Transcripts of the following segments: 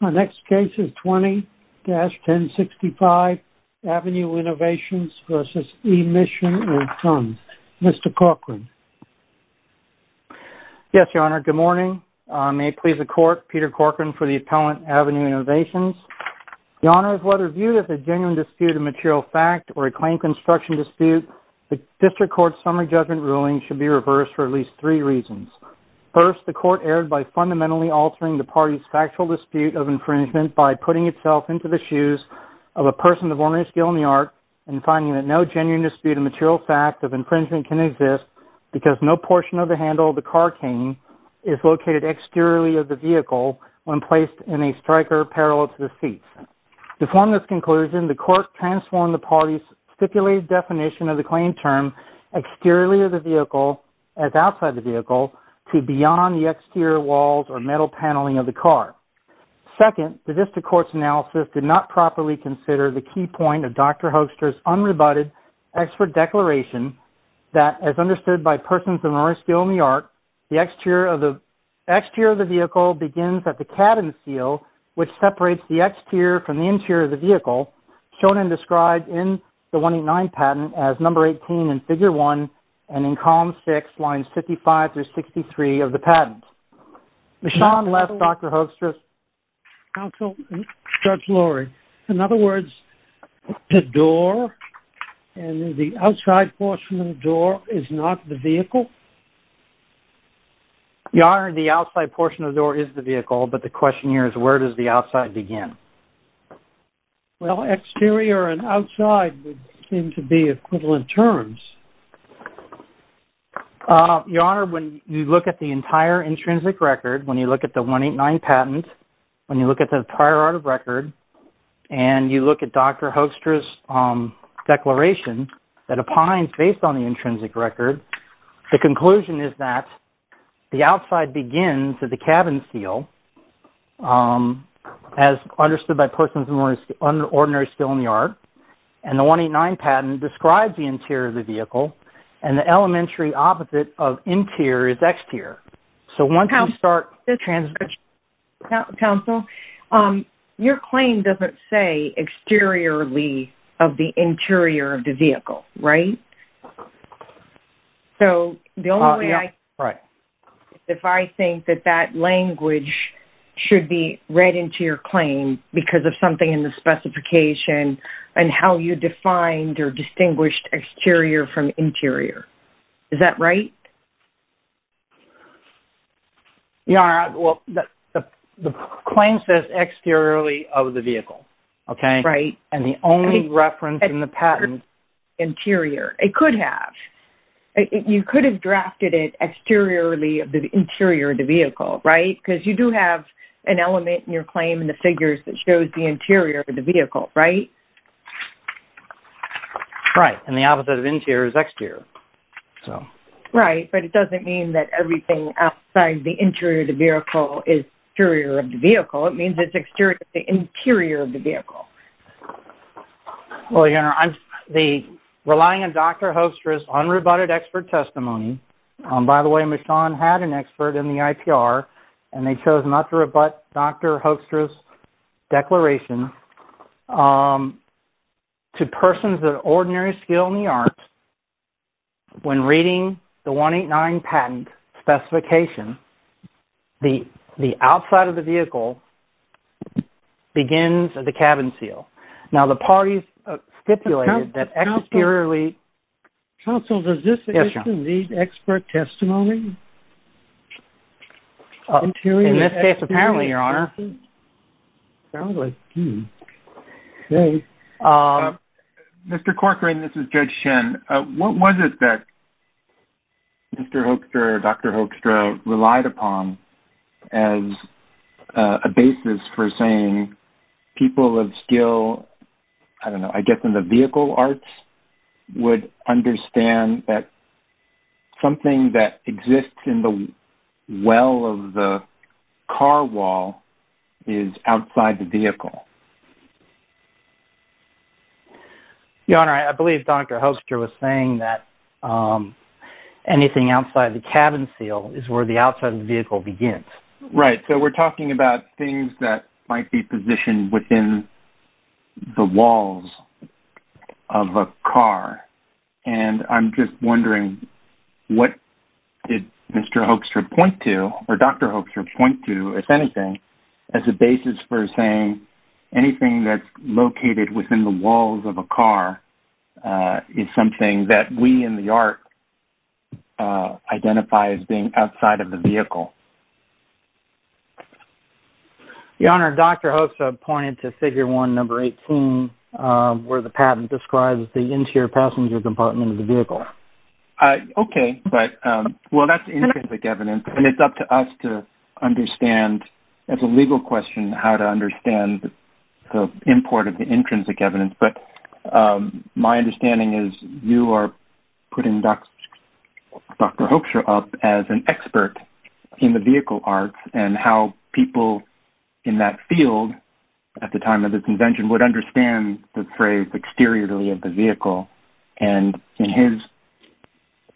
The next case is 20-1065, Avenue Innovations v. E. Mishan & Sons. Mr. Corcoran. Yes, Your Honor. Good morning. May it please the Court, Peter Corcoran for the appellant, Avenue Innovations. Your Honor, whether viewed as a genuine dispute of material fact or a claim construction dispute, the District Court's summary judgment ruling should be reversed for at least three reasons. First, the Court erred by fundamentally altering the party's factual dispute of infringement by putting itself into the shoes of a person of ordinary skill in the art and finding that no genuine dispute of material fact of infringement can exist because no portion of the handle of the car cane is located exteriorly of the vehicle when placed in a striker parallel to the seats. To form this conclusion, the Court transformed the party's stipulated definition of the claim term as outside the vehicle to beyond the exterior walls or metal paneling of the car. Second, the District Court's analysis did not properly consider the key point of Dr. Hoekstra's unrebutted expert declaration that, as understood by persons of ordinary skill in the art, the exterior of the vehicle begins at the cabin seal, shown and described in the 189 patent as number 18 in Figure 1 and in Column 6, Lines 55 through 63 of the patent. Your Honor, the outside portion of the door is not the vehicle? Your Honor, the outside portion of the door is the vehicle, but the question here is where does the outside begin? Well, exterior and outside would seem to be equivalent terms. Your Honor, when you look at the entire intrinsic record, when you look at the 189 patent, when you look at the prior art of record, and you look at Dr. Hoekstra's declaration that opines based on the intrinsic record, the conclusion is that the outside begins at the cabin seal, as understood by persons of ordinary skill in the art, and the 189 patent describes the interior of the vehicle, and the elementary opposite of interior is exterior. Counsel, your claim doesn't say exteriorly of the interior of the vehicle, right? So, the only way I can... Right. If I think that that language should be read into your claim because of something in the specification and how you defined or distinguished exterior from interior. Is that right? Your Honor, well, the claim says exteriorly of the vehicle, okay? Right. And the only reference in the patent... It could have. You could have drafted it exteriorly of the interior of the vehicle, right? Because you do have an element in your claim in the figures that shows the interior of the vehicle, right? Right, and the opposite of interior is exterior, so... Right, but it doesn't mean that everything outside the interior of the vehicle is exterior of the vehicle. It means it's exterior to the interior of the vehicle. Well, Your Honor, relying on Dr. Hoekstra's unrebutted expert testimony... By the way, Michonne had an expert in the IPR, and they chose not to rebut Dr. Hoekstra's declaration. To persons of ordinary skill in the arts, when reading the 189 patent specification, the outside of the vehicle begins at the cabin seal. Now, the parties stipulated that exteriorly... Counsel, does this issue need expert testimony? In this case, apparently, Your Honor. Mr. Corcoran, this is Judge Shen. What was it that Mr. Hoekstra or Dr. Hoekstra relied upon as a basis for saying people of skill, I don't know, I guess in the vehicle arts, would understand that something that exists in the well of the car wall is outside the vehicle? Your Honor, I believe Dr. Hoekstra was saying that anything outside the cabin seal is where the outside of the vehicle begins. Right. So we're talking about things that might be positioned within the walls of a car, and I'm just wondering what did Mr. Hoekstra point to, or Dr. Hoekstra point to, if anything, as a basis for saying anything that's located within the walls of a car is something that we in the art identify as being outside of the vehicle? Your Honor, Dr. Hoekstra pointed to figure 1, number 18, where the patent describes the interior passenger compartment of the vehicle. Okay. Well, that's intrinsic evidence, and it's up to us to understand as a legal question how to understand the import of the intrinsic evidence, but my understanding is you are putting Dr. Hoekstra up as an expert in the vehicle arts and how people in that field at the time of this invention would understand the phrase exteriorly of the vehicle, and in his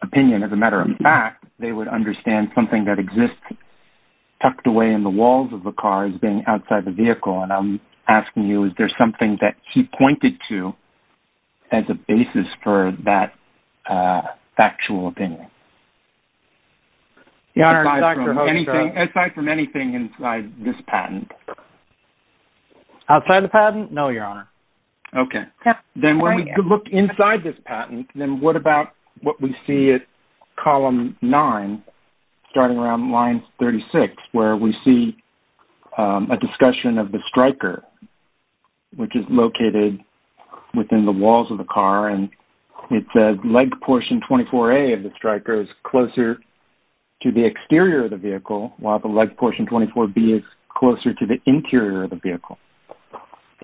opinion, as a matter of fact, they would understand something that exists tucked away in the walls of the car as being outside the vehicle, and I'm asking you, is there something that he pointed to as a basis for that factual opinion? Your Honor, Dr. Hoekstra... Aside from anything inside this patent? Outside the patent? No, Your Honor. Okay. Then when we look inside this patent, then what about what we see at column 9, starting around line 36, where we see a discussion of the striker, which is located within the walls of the car, and it says leg portion 24A of the striker is closer to the exterior of the vehicle, while the leg portion 24B is closer to the interior of the vehicle,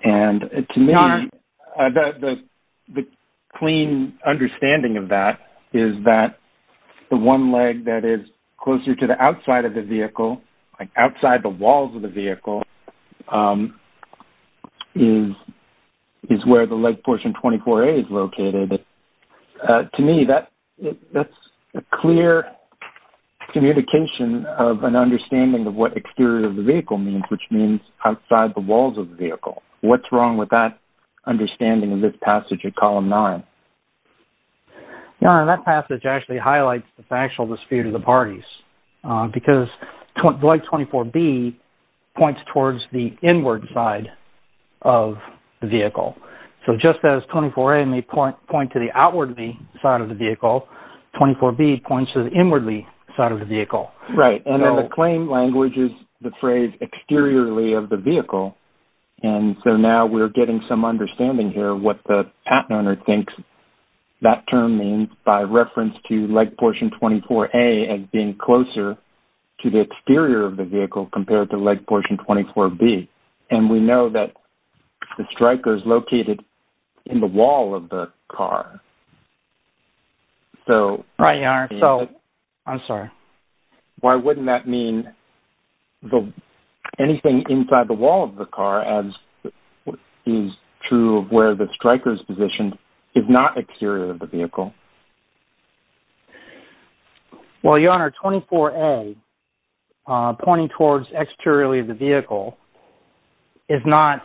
and to me... Your Honor... The clean understanding of that is that the one leg that is closer to the outside of the vehicle, like outside the walls of the vehicle, is where the leg portion 24A is located. To me, that's a clear communication of an understanding of what exterior of the vehicle means, which means outside the walls of the vehicle. What's wrong with that understanding in this passage at column 9? Your Honor, that passage actually highlights the factual dispute of the parties, because leg 24B points towards the inward side of the vehicle. So just as 24A may point to the outwardly side of the vehicle, 24B points to the inwardly side of the vehicle. Right. And then the claim language is the phrase exteriorly of the vehicle, and so now we're getting some understanding here what the patent owner thinks that term means by reference to leg portion 24A as being closer to the exterior of the vehicle compared to leg portion 24B, and we know that the striker is located in the wall of the car. Right, Your Honor. I'm sorry. Why wouldn't that mean anything inside the wall of the car as is true of where the striker is positioned is not exterior of the vehicle? Well, Your Honor, 24A, pointing towards exteriorly of the vehicle, is not...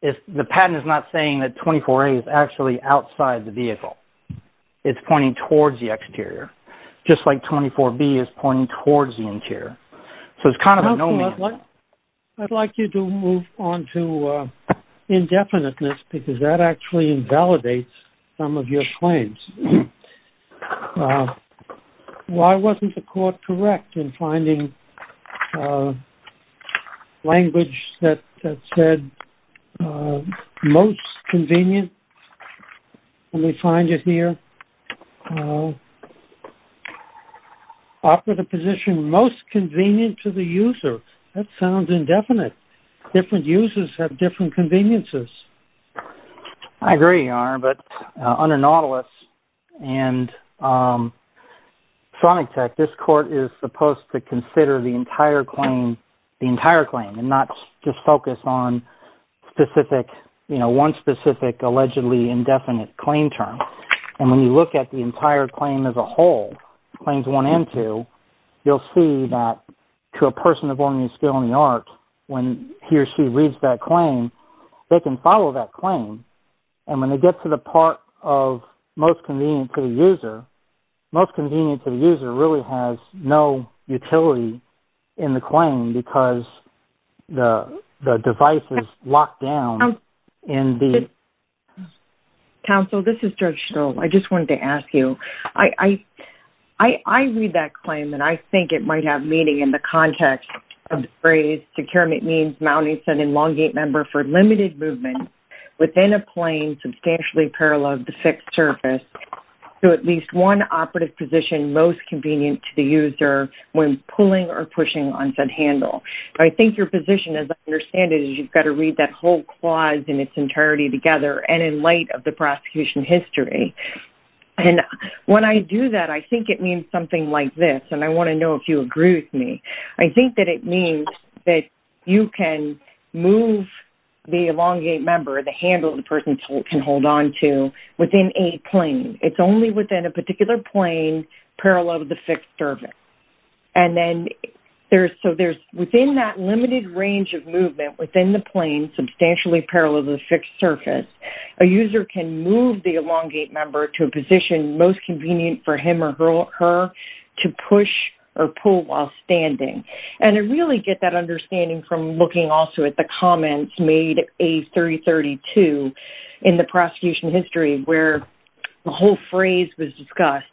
The patent is not saying that 24A is actually outside the vehicle. It's pointing towards the exterior, just like 24B is pointing towards the interior. So it's kind of a no-man's land. I'd like you to move on to indefiniteness because that actually invalidates some of your claims. Why wasn't the court correct in finding language that said most convenient when we find it here? Offer the position most convenient to the user. That sounds indefinite. Different users have different conveniences. I agree, Your Honor, but under Nautilus and Chronic Tech, this court is supposed to consider the entire claim and not just focus on one specific, allegedly indefinite claim term. And when you look at the entire claim as a whole, claims one and two, you'll see that to a person of ordinary skill in the art, when he or she reads that claim, they can follow that claim. And when they get to the part of most convenient to the user, most convenient to the user really has no utility in the claim because the device is locked down in the... Counsel, this is Judge Schill. I just wanted to ask you. I read that claim and I think it might have meaning in the context of the phrase secure means mounting an elongate member for limited movement within a plane substantially parallel to the fixed surface to at least one operative position most convenient to the user when pulling or pushing on said handle. I think your position, as I understand it, is you've got to read that whole clause in its entirety together and in light of the prosecution history. And when I do that, I think it means something like this, and I want to know if you agree with me. I think that it means that you can move the elongate member, the handle the person can hold on to, within a plane. It's only within a particular plane parallel to the fixed surface. And then there's... So there's within that limited range of movement within the plane that is substantially parallel to the fixed surface, a user can move the elongate member to a position most convenient for him or her to push or pull while standing. And I really get that understanding from looking also at the comments made, A332, in the prosecution history where the whole phrase was discussed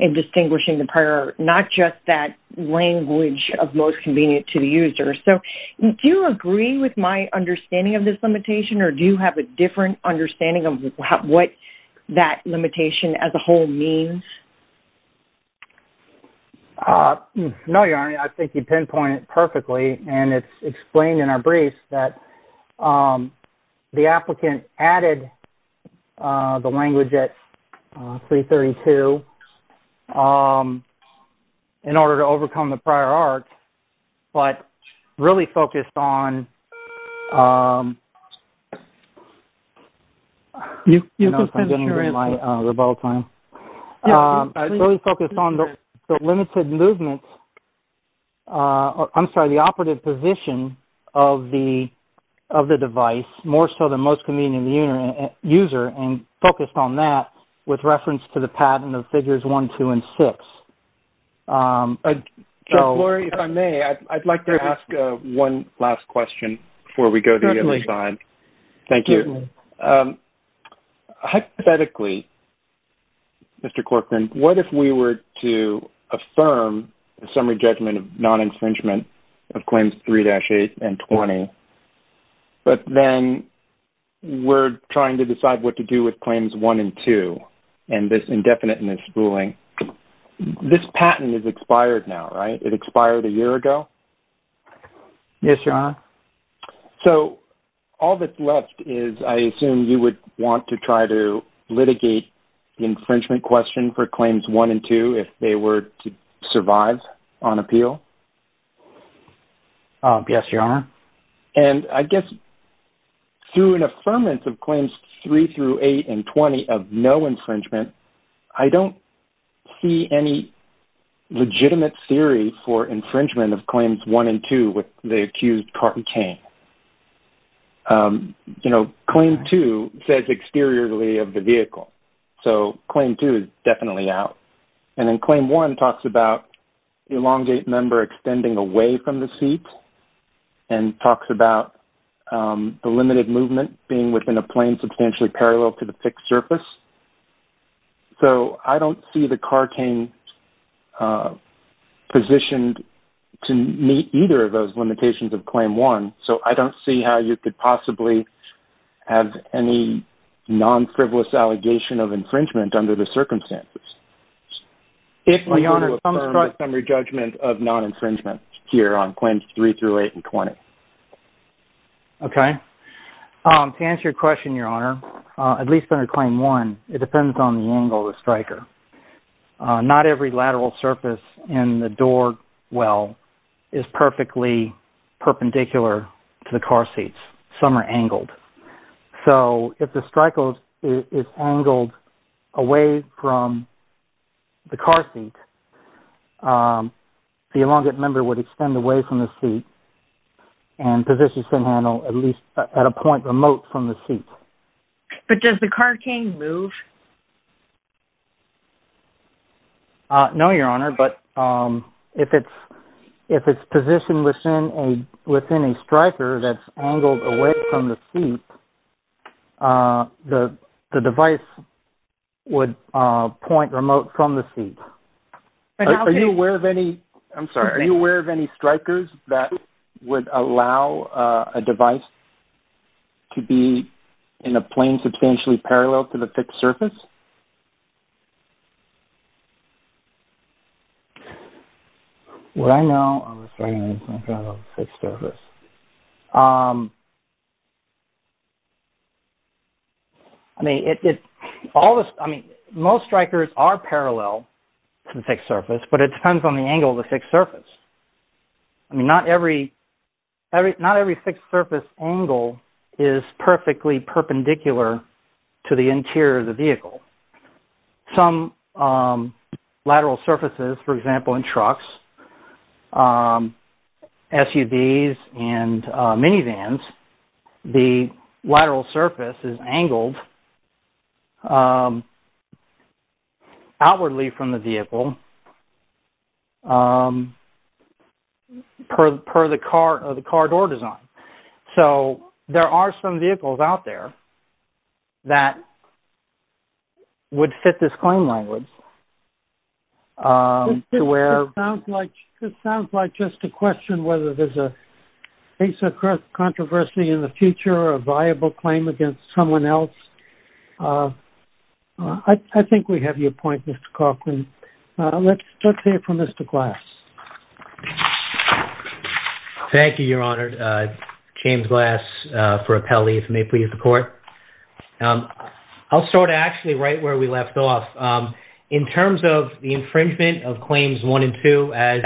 in distinguishing the prior, not just that language of most convenient to the user. So do you agree with my understanding of this limitation, or do you have a different understanding of what that limitation as a whole means? No, Your Honor, I think you pinpointed it perfectly, and it's explained in our briefs that the applicant added the language at A332 in order to overcome the prior arc, but really focused on... I don't know if I'm getting rid of my rebuttal time. Really focused on the limited movement... I'm sorry, the operative position of the device, more so than most convenient to the user, and focused on that with reference to the pattern of figures 1, 2, and 6. So, Gloria, if I may, I'd like to ask one last question before we go to the other side. Certainly. Thank you. Hypothetically, Mr. Corcoran, what if we were to affirm a summary judgment of non-infringement of Claims 3-8 and 20, but then we're trying to decide what to do with Claims 1 and 2 and this indefiniteness ruling? This patent is expired now, right? It expired a year ago? Yes, Your Honor. So, all that's left is, I assume you would want to try to litigate the infringement question for Claims 1 and 2 if they were to survive on appeal? Yes, Your Honor. And I guess through an affirmance of Claims 3-8 and 20 of no infringement, I don't see any legitimate theory for infringement of Claims 1 and 2 with the accused Carton Kane. You know, Claim 2 says exteriorly of the vehicle. So, Claim 2 is definitely out. And then Claim 1 talks about the elongate member extending away from the seat and talks about the limited movement being within a plane substantially parallel to the fixed surface. So, I don't see the Carton Kane positioned to meet either of those limitations of Claim 1. So, I don't see how you could possibly have any non-frivolous allegation of infringement under the circumstances. If we were to affirm the summary judgment of non-infringement here on Claims 3-8 and 20. Okay. To answer your question, Your Honor, at least under Claim 1, it depends on the angle of the striker. Not every lateral surface in the door well is perfectly perpendicular to the car seats. Some are angled. So, if the striker is angled away from the car seat, the elongate member would extend away from the seat and position the sin handle at a point remote from the seat. But does the car cane move? No, Your Honor, but if it's positioned within a striker that's angled away from the seat, the device would point remote from the seat. Are you aware of any... I'm sorry. Are you aware of any strikers that would allow a device to be in a plane substantially parallel to the fixed surface? What I know of a striker that's not parallel to the fixed surface. I mean, it's... All the... I mean, most strikers are parallel to the fixed surface, but it depends on the angle of the fixed surface. I mean, not every... Not every fixed surface angle is perfectly perpendicular to the interior of the vehicle. Some lateral surfaces, for example, in trucks, SUVs, and minivans, the lateral surface is angled outwardly from the vehicle per the car door design. So, there are some vehicles out there that would fit this claim language to where... It sounds like just a question whether there's a case of controversy in the future or a viable claim against someone else. I think we have your point, Mr. Coughlin. Let's start here from Mr. Glass. Thank you, Your Honor. James Glass for appellee, if you may please report. I'll start actually right where we left off. In terms of the infringement of Claims 1 and 2, as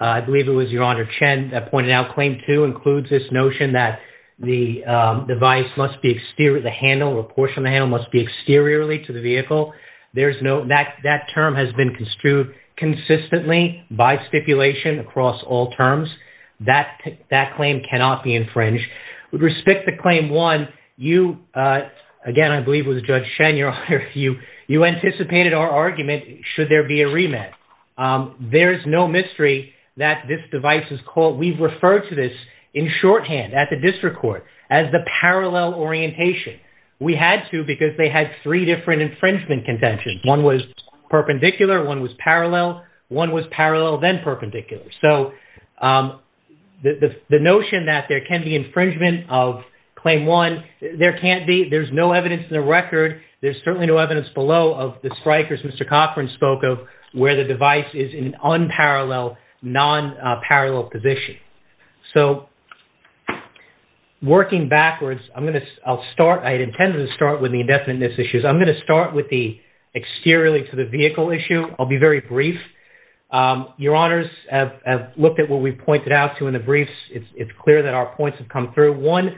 I believe it was Your Honor Chen that pointed out, Claim 2 includes this notion that the device must be exterior... The handle or portion of the handle must be exteriorly to the vehicle. There's no... That term has been construed consistently by stipulation across all terms. That claim cannot be infringed. With respect to Claim 1, you... Again, I believe it was Judge Chen, Your Honor, you anticipated our argument should there be a remand. There is no mystery that this device is called... We've referred to this in shorthand at the District Court as the parallel orientation. We had to because they had three different infringement contentions. One was perpendicular, one was parallel, one was parallel then perpendicular. So, the notion that there can be infringement of Claim 1, there can't be. There's no evidence in the record. There's certainly no evidence below of the strikers Mr. Cochran spoke of where the device is in unparalleled, non-parallel position. So, working backwards, I'm going to... I'll start... I intended to start with the indefiniteness issues. I'm going to start with the exteriorly to the vehicle issue. I'll be very brief. Your Honors, I've looked at what we pointed out to in the briefs. It's clear that our points have come through. One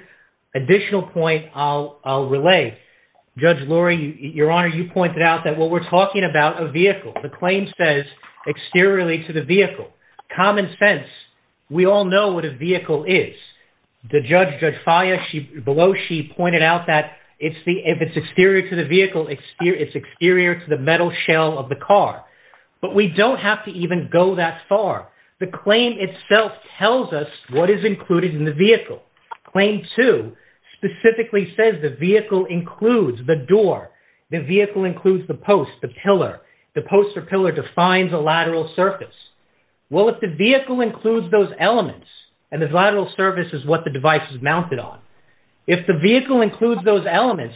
additional point I'll relay. Judge Lurie, Your Honor, you pointed out that what we're talking about, a vehicle. exteriorly to the vehicle. Common sense. We all know what a vehicle is. The judge, Judge Faya, below she pointed out that if it's exterior to the vehicle, it's exterior to the metal shell of the car. But we don't have to even go that far. The claim itself tells us what is included in the vehicle. Claim two, specifically says the vehicle includes the door. The vehicle includes the post, the pillar. The post or pillar defines a lateral surface. Well, if the vehicle includes those elements and the lateral surface is what the device is mounted on. If the vehicle includes those elements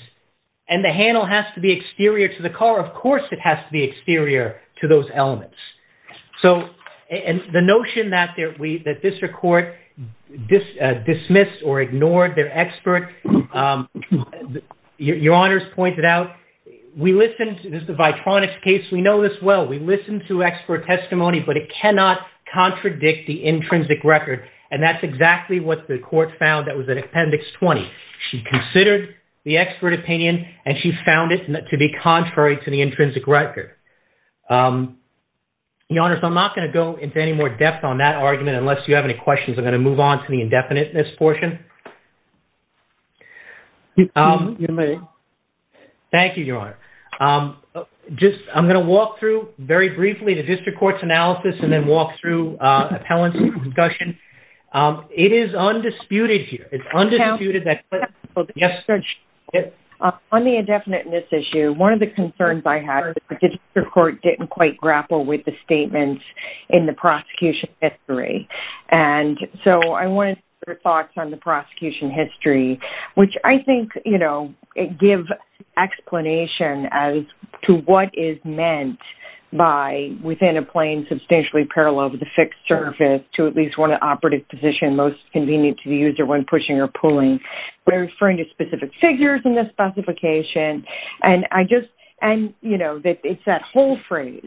and the handle has to be exterior to the car, of course, it has to be exterior to those elements. And the notion that this court dismissed or ignored their expert, Your Honor's pointed out, we listened to the Vitronics case. We know this well. We listened to expert testimony, but it cannot contradict the intrinsic record. And that's exactly what the court found that was in Appendix 20. She considered the expert opinion and she found it to be contrary to the intrinsic record. Your Honor, so I'm not going to go into any more depth on that argument unless you have any questions. I'm going to move on to the indefiniteness portion. You may. Thank you, Your Honor. Just, I'm going to walk through very briefly the district court's analysis and then walk through appellants and concussion. It is undisputed here. It's undisputed that- On the indefiniteness issue, one of the concerns I had was the district court didn't quite grapple with the statements in the prosecution history. And so I wanted your thoughts on the prosecution history, which I think, you know, it gives explanation as to what is meant by within a plane substantially parallel over the fixed surface to at least one operative position most convenient to the user when pushing or pulling. We're referring to specific figures in this specification. And I just, and you know, it's that whole phrase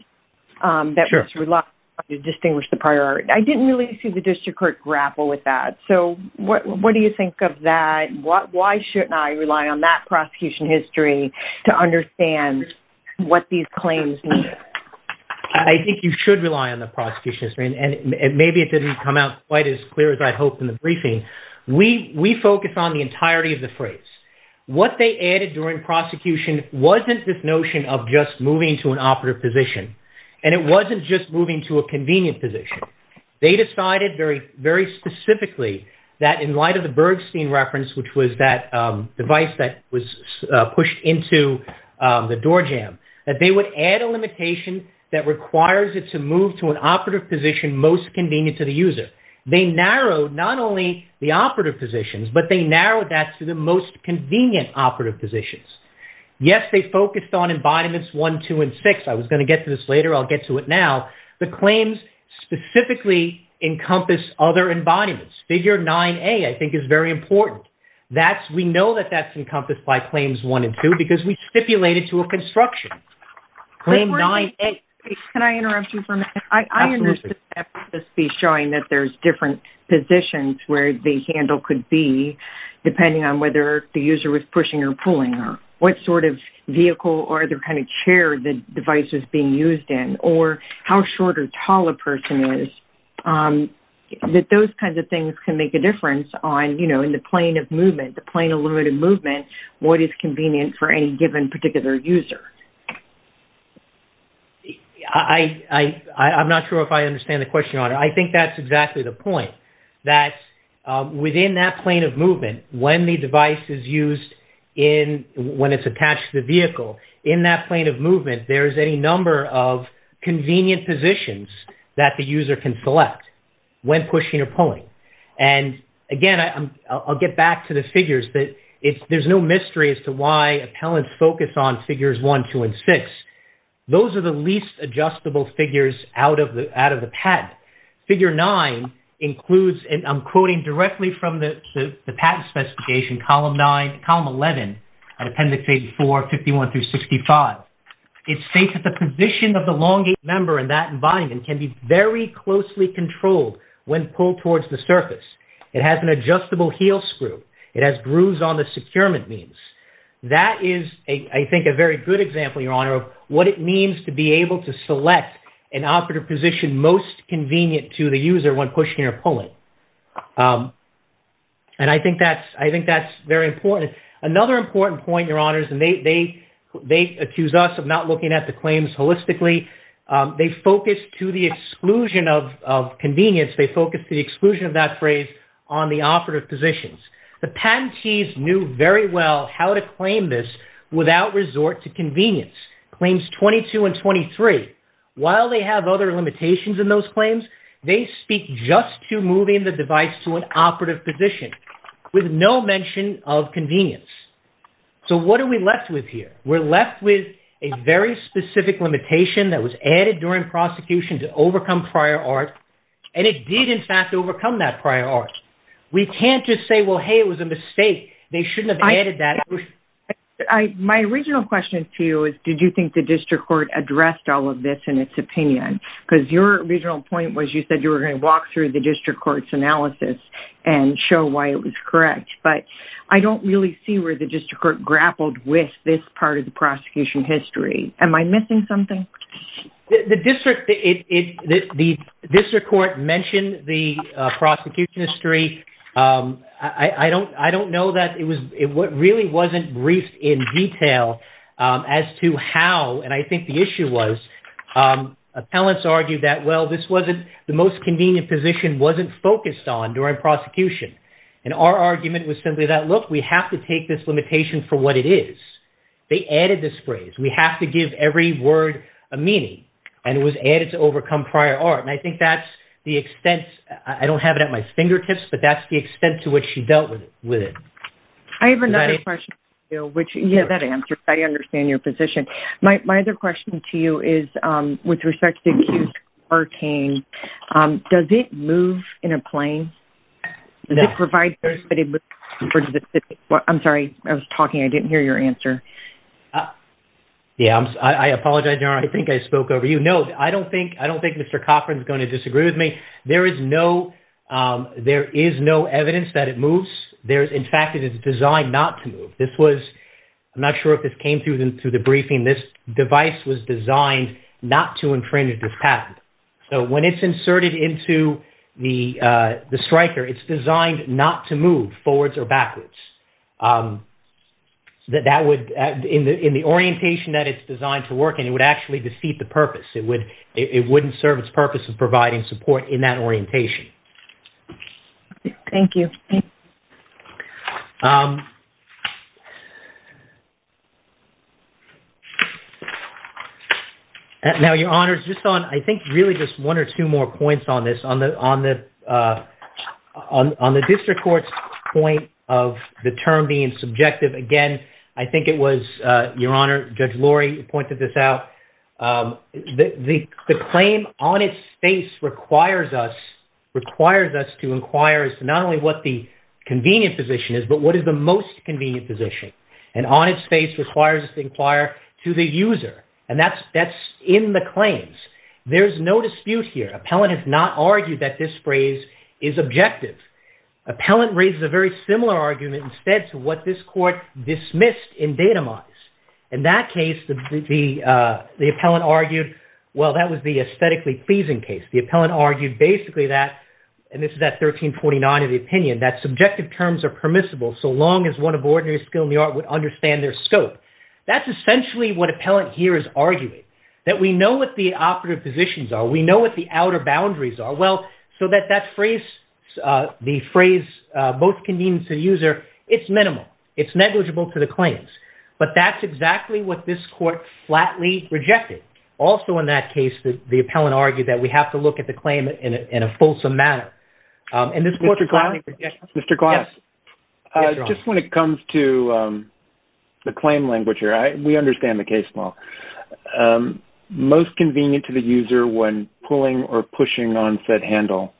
that was relied on to distinguish the priority. I didn't really see the district court grapple with that. So what do you think of that? Why shouldn't I rely on that prosecution history to understand what these claims mean? I think you should rely on the prosecution history. And maybe it didn't come out quite as clear as I'd hoped in the briefing. We focus on the entirety of the phrase. What they added during prosecution wasn't this notion of just moving to an operative position. And it wasn't just moving to a convenient position. They decided very specifically that in light of the Bergstein reference, which was that device that was pushed into the door jam, that they would add a limitation that requires it to move to an operative position most convenient to the user. They narrowed, not only the operative positions, but they narrowed that to the most convenient operative positions. Yes, they focused on embodiments one, two, and six. I was going to get to this later. I'll get to it now. The claims specifically encompass other embodiments. Figure 9A I think is very important. We know that that's encompassed by claims one and two because we stipulated to a construction. Claim 9A. Can I interrupt you for a minute? Absolutely. I understood that this piece showing that there's different positions where the handle could be depending on whether the user was pushing or pulling or what sort of vehicle or the kind of chair the device was being used in or how short or tall a person is. That those kinds of things can make a difference in the plane of movement, the plane of limited movement, what is convenient for any given particular user. I'm not sure if I understand the question. I think that's exactly the point that within that plane of movement when the device is used when it's attached to the vehicle, in that plane of movement there is any number of convenient positions that the user can select when pushing or pulling. Again, I'll get back to the figures. There's no mystery as to why appellants focus on figures one, two, and six. Those are the least adjustable figures out of the patent. Figure nine includes and I'm quoting directly from the patent specification column nine, column 11 and appendix 84, 51 through 65. It states that the position of the elongated member in that environment can be very closely controlled when pulled towards the surface. It has an adjustable heel screw. It has grooves on the securement beams. That is, I think, a very good example, Your Honor of what it means to be able to select an operative position most convenient to the user when pushing or pulling. I think that's very important. Another important point, Your Honors and they accuse us of not looking at the claims holistically. They focus to the exclusion of convenience. They focus the exclusion of that phrase on the operative positions. The patentees knew very well how to claim this without resort to convenience. Claims 22 and 23, while they have other limitations in those claims, they speak just to moving the device to an operative position with no mention of convenience. So what are we left with here? We're left with a very specific limitation that was added during prosecution to overcome prior art and it did, in fact, overcome that prior art. We can't just say, well, hey, it was a mistake. They shouldn't have added that. My original question to you is, did you think the district court addressed all of this in its opinion? Because your original point was you said you were going to walk through the district court's analysis and show why it was correct. But I don't really see where the district court grappled with this part of the prosecution history. Am I missing something? The district court mentioned the prosecution history. I don't know that it really wasn't briefed in detail as to how, and I think the issue was, appellants argued that, well, the most convenient position wasn't focused on during prosecution. And our argument was simply that, look, we have to take this limitation for what it is. They added this phrase. We have to give every word a meaning. And it was added to overcome prior art. And I think that's the extent. I don't have it at my fingertips, but that's the extent to which she dealt with it. I have another question for you. Yeah, that answers. I understand your position. My other question to you is with respect to Q14, does it move in a plane? I'm sorry, I was talking. I didn't hear your answer. Yeah, I apologize, Your Honor. I think I spoke over you. No, I don't think Mr. Cochran is going to disagree with me. There is no evidence that it moves. In fact, it is designed not to move. This was, I'm not sure if this came through the briefing, this device was designed not to infringe this patent. So when it's inserted into the striker, it's designed not to move forwards or backwards. In the orientation that it's designed to work in, it would actually defeat the purpose. It wouldn't serve its purpose of providing support in that orientation. Thank you. Now, Your Honor, just on, I think really just one or two more points on this, on the district court's point of the term being subjective. Again, I think it was, Your Honor, Judge Lori pointed this out. The claim on its face requires us, requires us to inquire as to not only what the convenient position is, but what is the most convenient position. And on its face requires us to inquire to the user. And that's in the claims. There's no dispute here. Appellant has not argued that this phrase is objective. Appellant raises a very similar argument instead to what this court dismissed in datamines. In that case, the appellant argued, well, that was the aesthetically pleasing case. The appellant argued basically that, and this is at 1349 in the opinion, that subjective terms are permissible so long as one of ordinary skill in the art would understand their scope. That's essentially what appellant here is arguing, that we know what the operative positions are. We know what the outer boundaries are. Well, so that that phrase, the phrase most convenient to the user, it's minimal. It's negligible to the claims. But that's exactly what this court flatly rejected. Also in that case, the appellant argued that we have to look at the claim in a fulsome manner. And this court flatly rejected. Mr. Glass, just when it comes to the claim language here, we understand the case law. Most convenient to the user when pulling or pushing on said handle.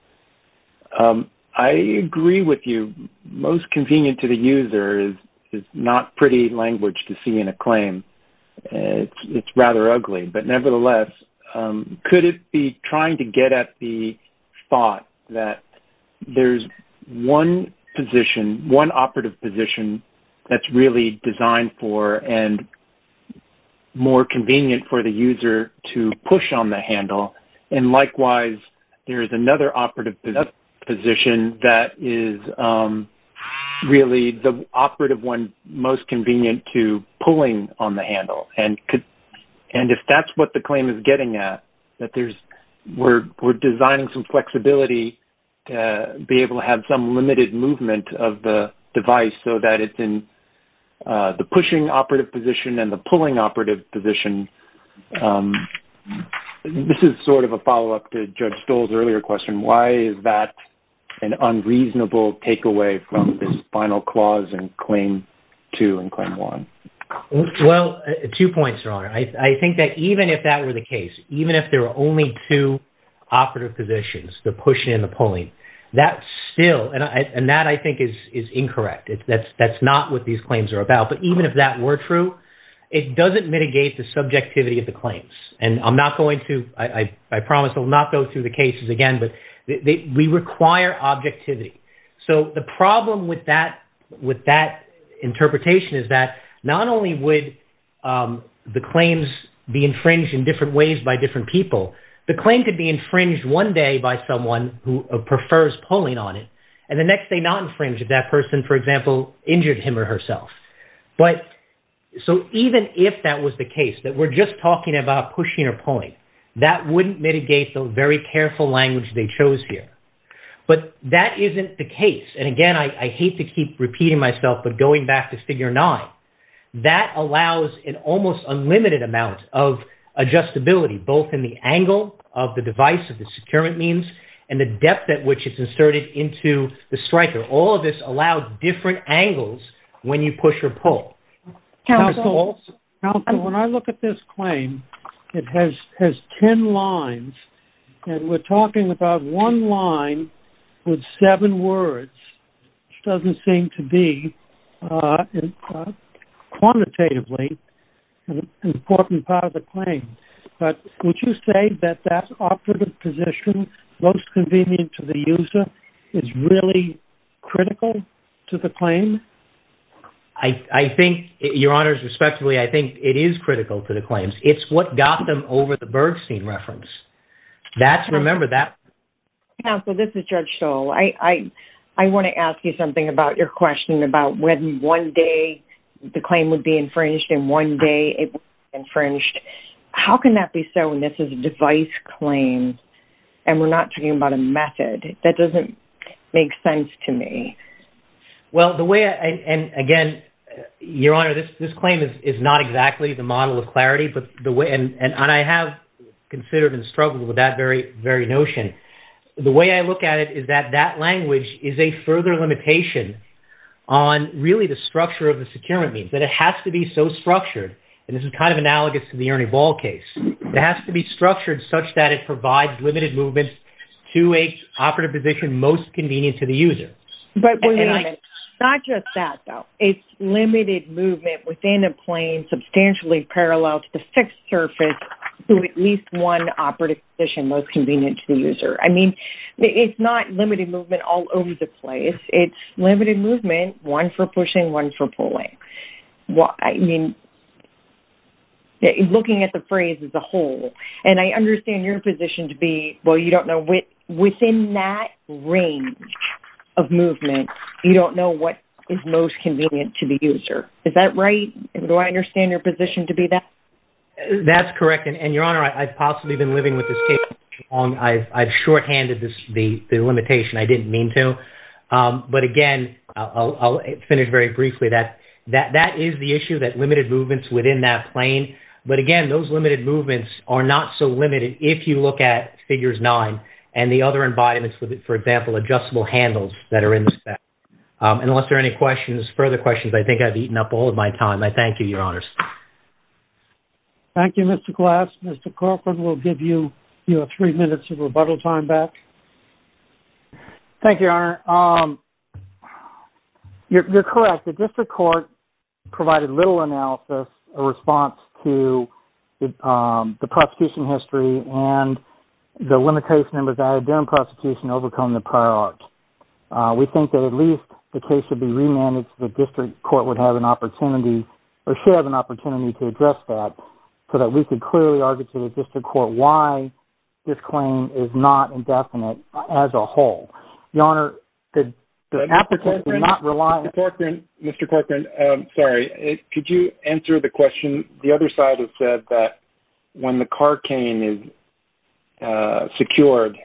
I agree with you. Most convenient to the user is not pretty language to see in a claim. It's rather ugly. But nevertheless, could it be trying to get at the thought that there's one position, one operative position that's really designed for and more convenient for the user to push on the handle. And likewise, there is another operative position that is really the operative one most convenient to pulling on the handle. And if that's what the claim is getting at, that we're designing some flexibility to be able to have some limited movement of the device so that it's in the pushing operative position and the pulling operative position. This is sort of a follow-up to Judge Stoll's earlier question. Why is that an unreasonable takeaway from this final clause in Claim 2 and Claim 1? Well, two points, Your Honor. I think that even if that were the case, even if there were only two operative positions, the pushing and the pulling, that still, and that, I think, is incorrect. That's not what these claims are about. But even if that were true, it doesn't mitigate the subjectivity of the claims. And I'm not going to, I promise, I'll not go through the cases again, but we require objectivity. So the problem with that interpretation is that not only would the claims be infringed in different ways by different people, the claim could be infringed one day by someone who prefers pulling on it, and the next day not infringed if that person, for example, injured him or herself. So even if that was the case, that we're just talking about pushing or pulling, that wouldn't mitigate the very careful language they chose here. But that isn't the case. And again, I hate to keep repeating myself, but going back to Figure 9, that allows an almost unlimited amount of adjustability, both in the angle of the device, of the securement means, and the depth at which it's inserted into the striker. All of this allows different angles when you push or pull. Counsel, when I look at this claim, it has ten lines, and we're talking about one line with seven words, which doesn't seem to be quantitatively an important part of the claim. But would you say that that operative position, most convenient to the user, is really critical to the claim? I think, Your Honors, respectively, I think it is critical to the claims. It's what Gotham over the Bergstein reference. That's, remember, that... Counsel, this is Judge Stoll. I want to ask you something about your question about when one day the claim would be infringed and one day it would be infringed. How can that be so when this is a device claim and we're not talking about a method? That doesn't make sense to me. Well, the way, and again, Your Honor, this claim is not exactly the model of clarity, and I have considered and struggled with that very notion. The way I look at it is that that language is a further limitation on really the structure of the securement means, that it has to be so structured, and this is kind of analogous to the Ernie Ball case. It has to be structured such that it provides limited movement to an operative position most convenient to the user. But wait a minute. Not just that, though. It's limited movement within a claim that is substantially parallel to the fixed surface to at least one operative position most convenient to the user. I mean, it's not limited movement all over the place. It's limited movement, one for pushing, one for pulling. I mean, looking at the phrase as a whole, and I understand your position to be, well, you don't know within that range of movement, you don't know what is most convenient to the user. Is that right? Do I understand your position to be that? That's correct, and, Your Honor, I've possibly been living with this case long. I've shorthanded the limitation. I didn't mean to. But again, I'll finish very briefly. That is the issue, that limited movements within that plane. But again, those limited movements are not so limited if you look at Figures 9 and the other embodiments, for example, adjustable handles that are in the spec. Unless there are any questions, further questions, I think I've eaten up all of my time. I thank you, Your Honors. Thank you, Mr. Glass. Mr. Corcoran, we'll give you three minutes of rebuttal time back. Thank you, Your Honor. You're correct. The district court provided little analysis, a response to the prosecution history and the limitation that was added during prosecution to overcome the prior art. We think that at least the case should be remanded so that the district court would have an opportunity or should have an opportunity to address that so that we could clearly argue to the district court why this claim is not indefinite as a whole. Your Honor, the applicant did not rely on... Mr. Corcoran, sorry. Could you answer the question? when the car cane is secured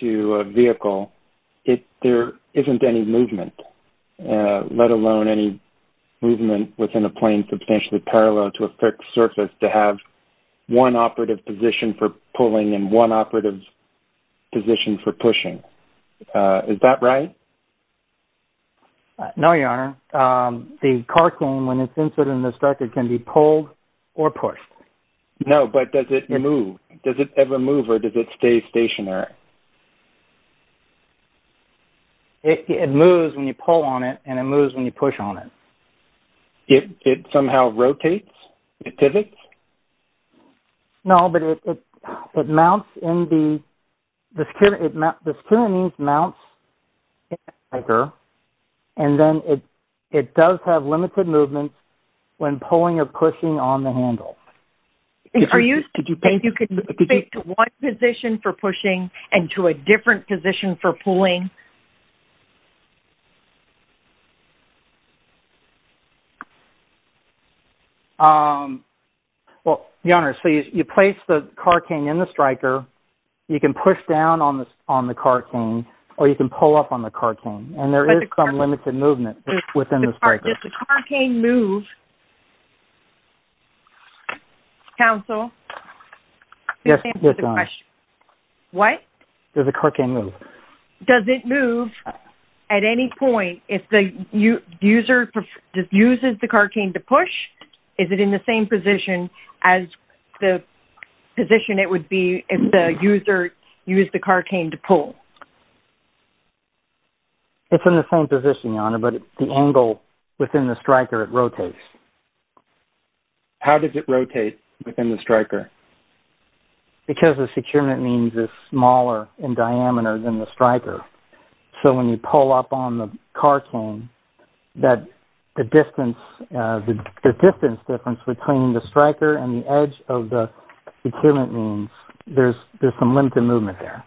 to a vehicle, there isn't any movement, let alone any movement within a plane substantially parallel to a fixed surface to have one operative position for pulling and one operative position for pushing. Is that right? No, Your Honor. The car cane, when it's inserted in the structure, can be pulled or pushed. No, but does it move? Does it ever move or does it stay stationary? It moves when you pull on it and it moves when you push on it. It somehow rotates? It pivots? No, but it mounts in the... The secure means mounts in the anchor and then it does have limited movement when pulling or pushing on the handle. Are you saying you can move it to one position for pushing and to a different position for pulling? Well, Your Honor, so you place the car cane in the striker, you can push down on the car cane or you can pull up on the car cane and there is some limited movement within the striker. Does the car cane move? Counsel? Yes, Your Honor. What? Does the car cane move? Does it move at any point? If the user uses the car cane to push, is it in the same position as the position it would be if the user used the car cane to pull? It's in the same position, Your Honor, but the angle within the striker, it rotates. How does it rotate within the striker? Because the secure means is smaller in diameter than the striker. So when you pull up on the car cane, the distance difference between the striker and the edge of the secure means, there is some limited movement there.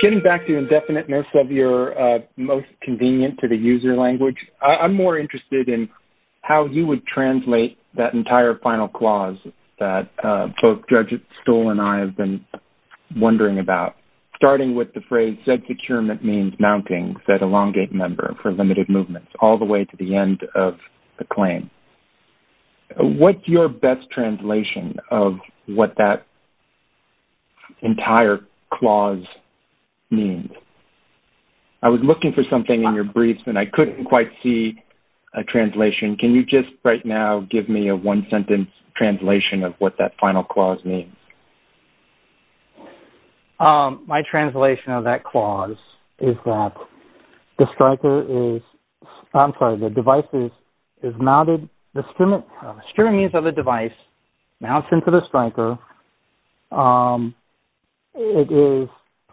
Getting back to the indefiniteness of your most convenient to the user language, I'm more interested in how you would translate that entire final clause that both Judge Stoll and I have been wondering about, starting with the phrase, Zed securement means mounting, Zed elongate member for limited movements, all the way to the end of the claim. What's your best translation of what that means? What does that entire clause mean? I was looking for something in your briefs and I couldn't quite see a translation. Can you just right now give me a one-sentence translation of what that final clause means? My translation of that clause is that the striker is, I'm sorry, the device is mounted, the secure means of the device mounts into the striker. It is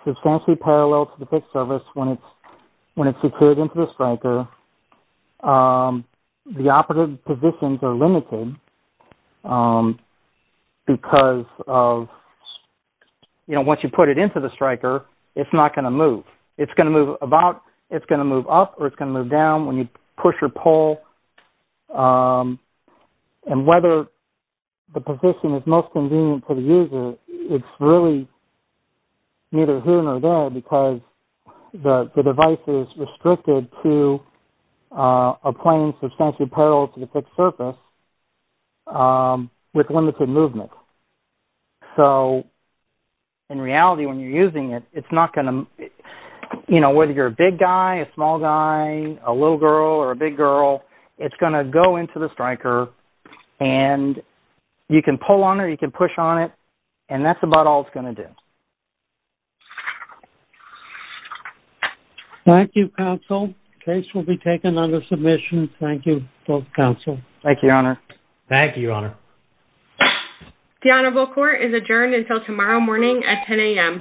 substantially parallel to the PIC service when it's secured into the striker. The operative positions are limited because once you put it into the striker, it's not going to move. It's going to move up or it's going to move down when you push or pull. And whether the position is most convenient for the user, it's really neither here nor there because the device is restricted to applying substantially parallel to the PIC service with limited movement. So in reality, when you're using it, whether you're a big guy, a small guy, a little girl or a big girl, it's going to go into the striker and you can pull on it or you can push on it and that's about all it's going to do. Thank you, counsel. Case will be taken under submission. Thank you, both counsel. Thank you, Your Honor. Thank you, Your Honor. The Honorable Court is adjourned until tomorrow morning at 10 a.m.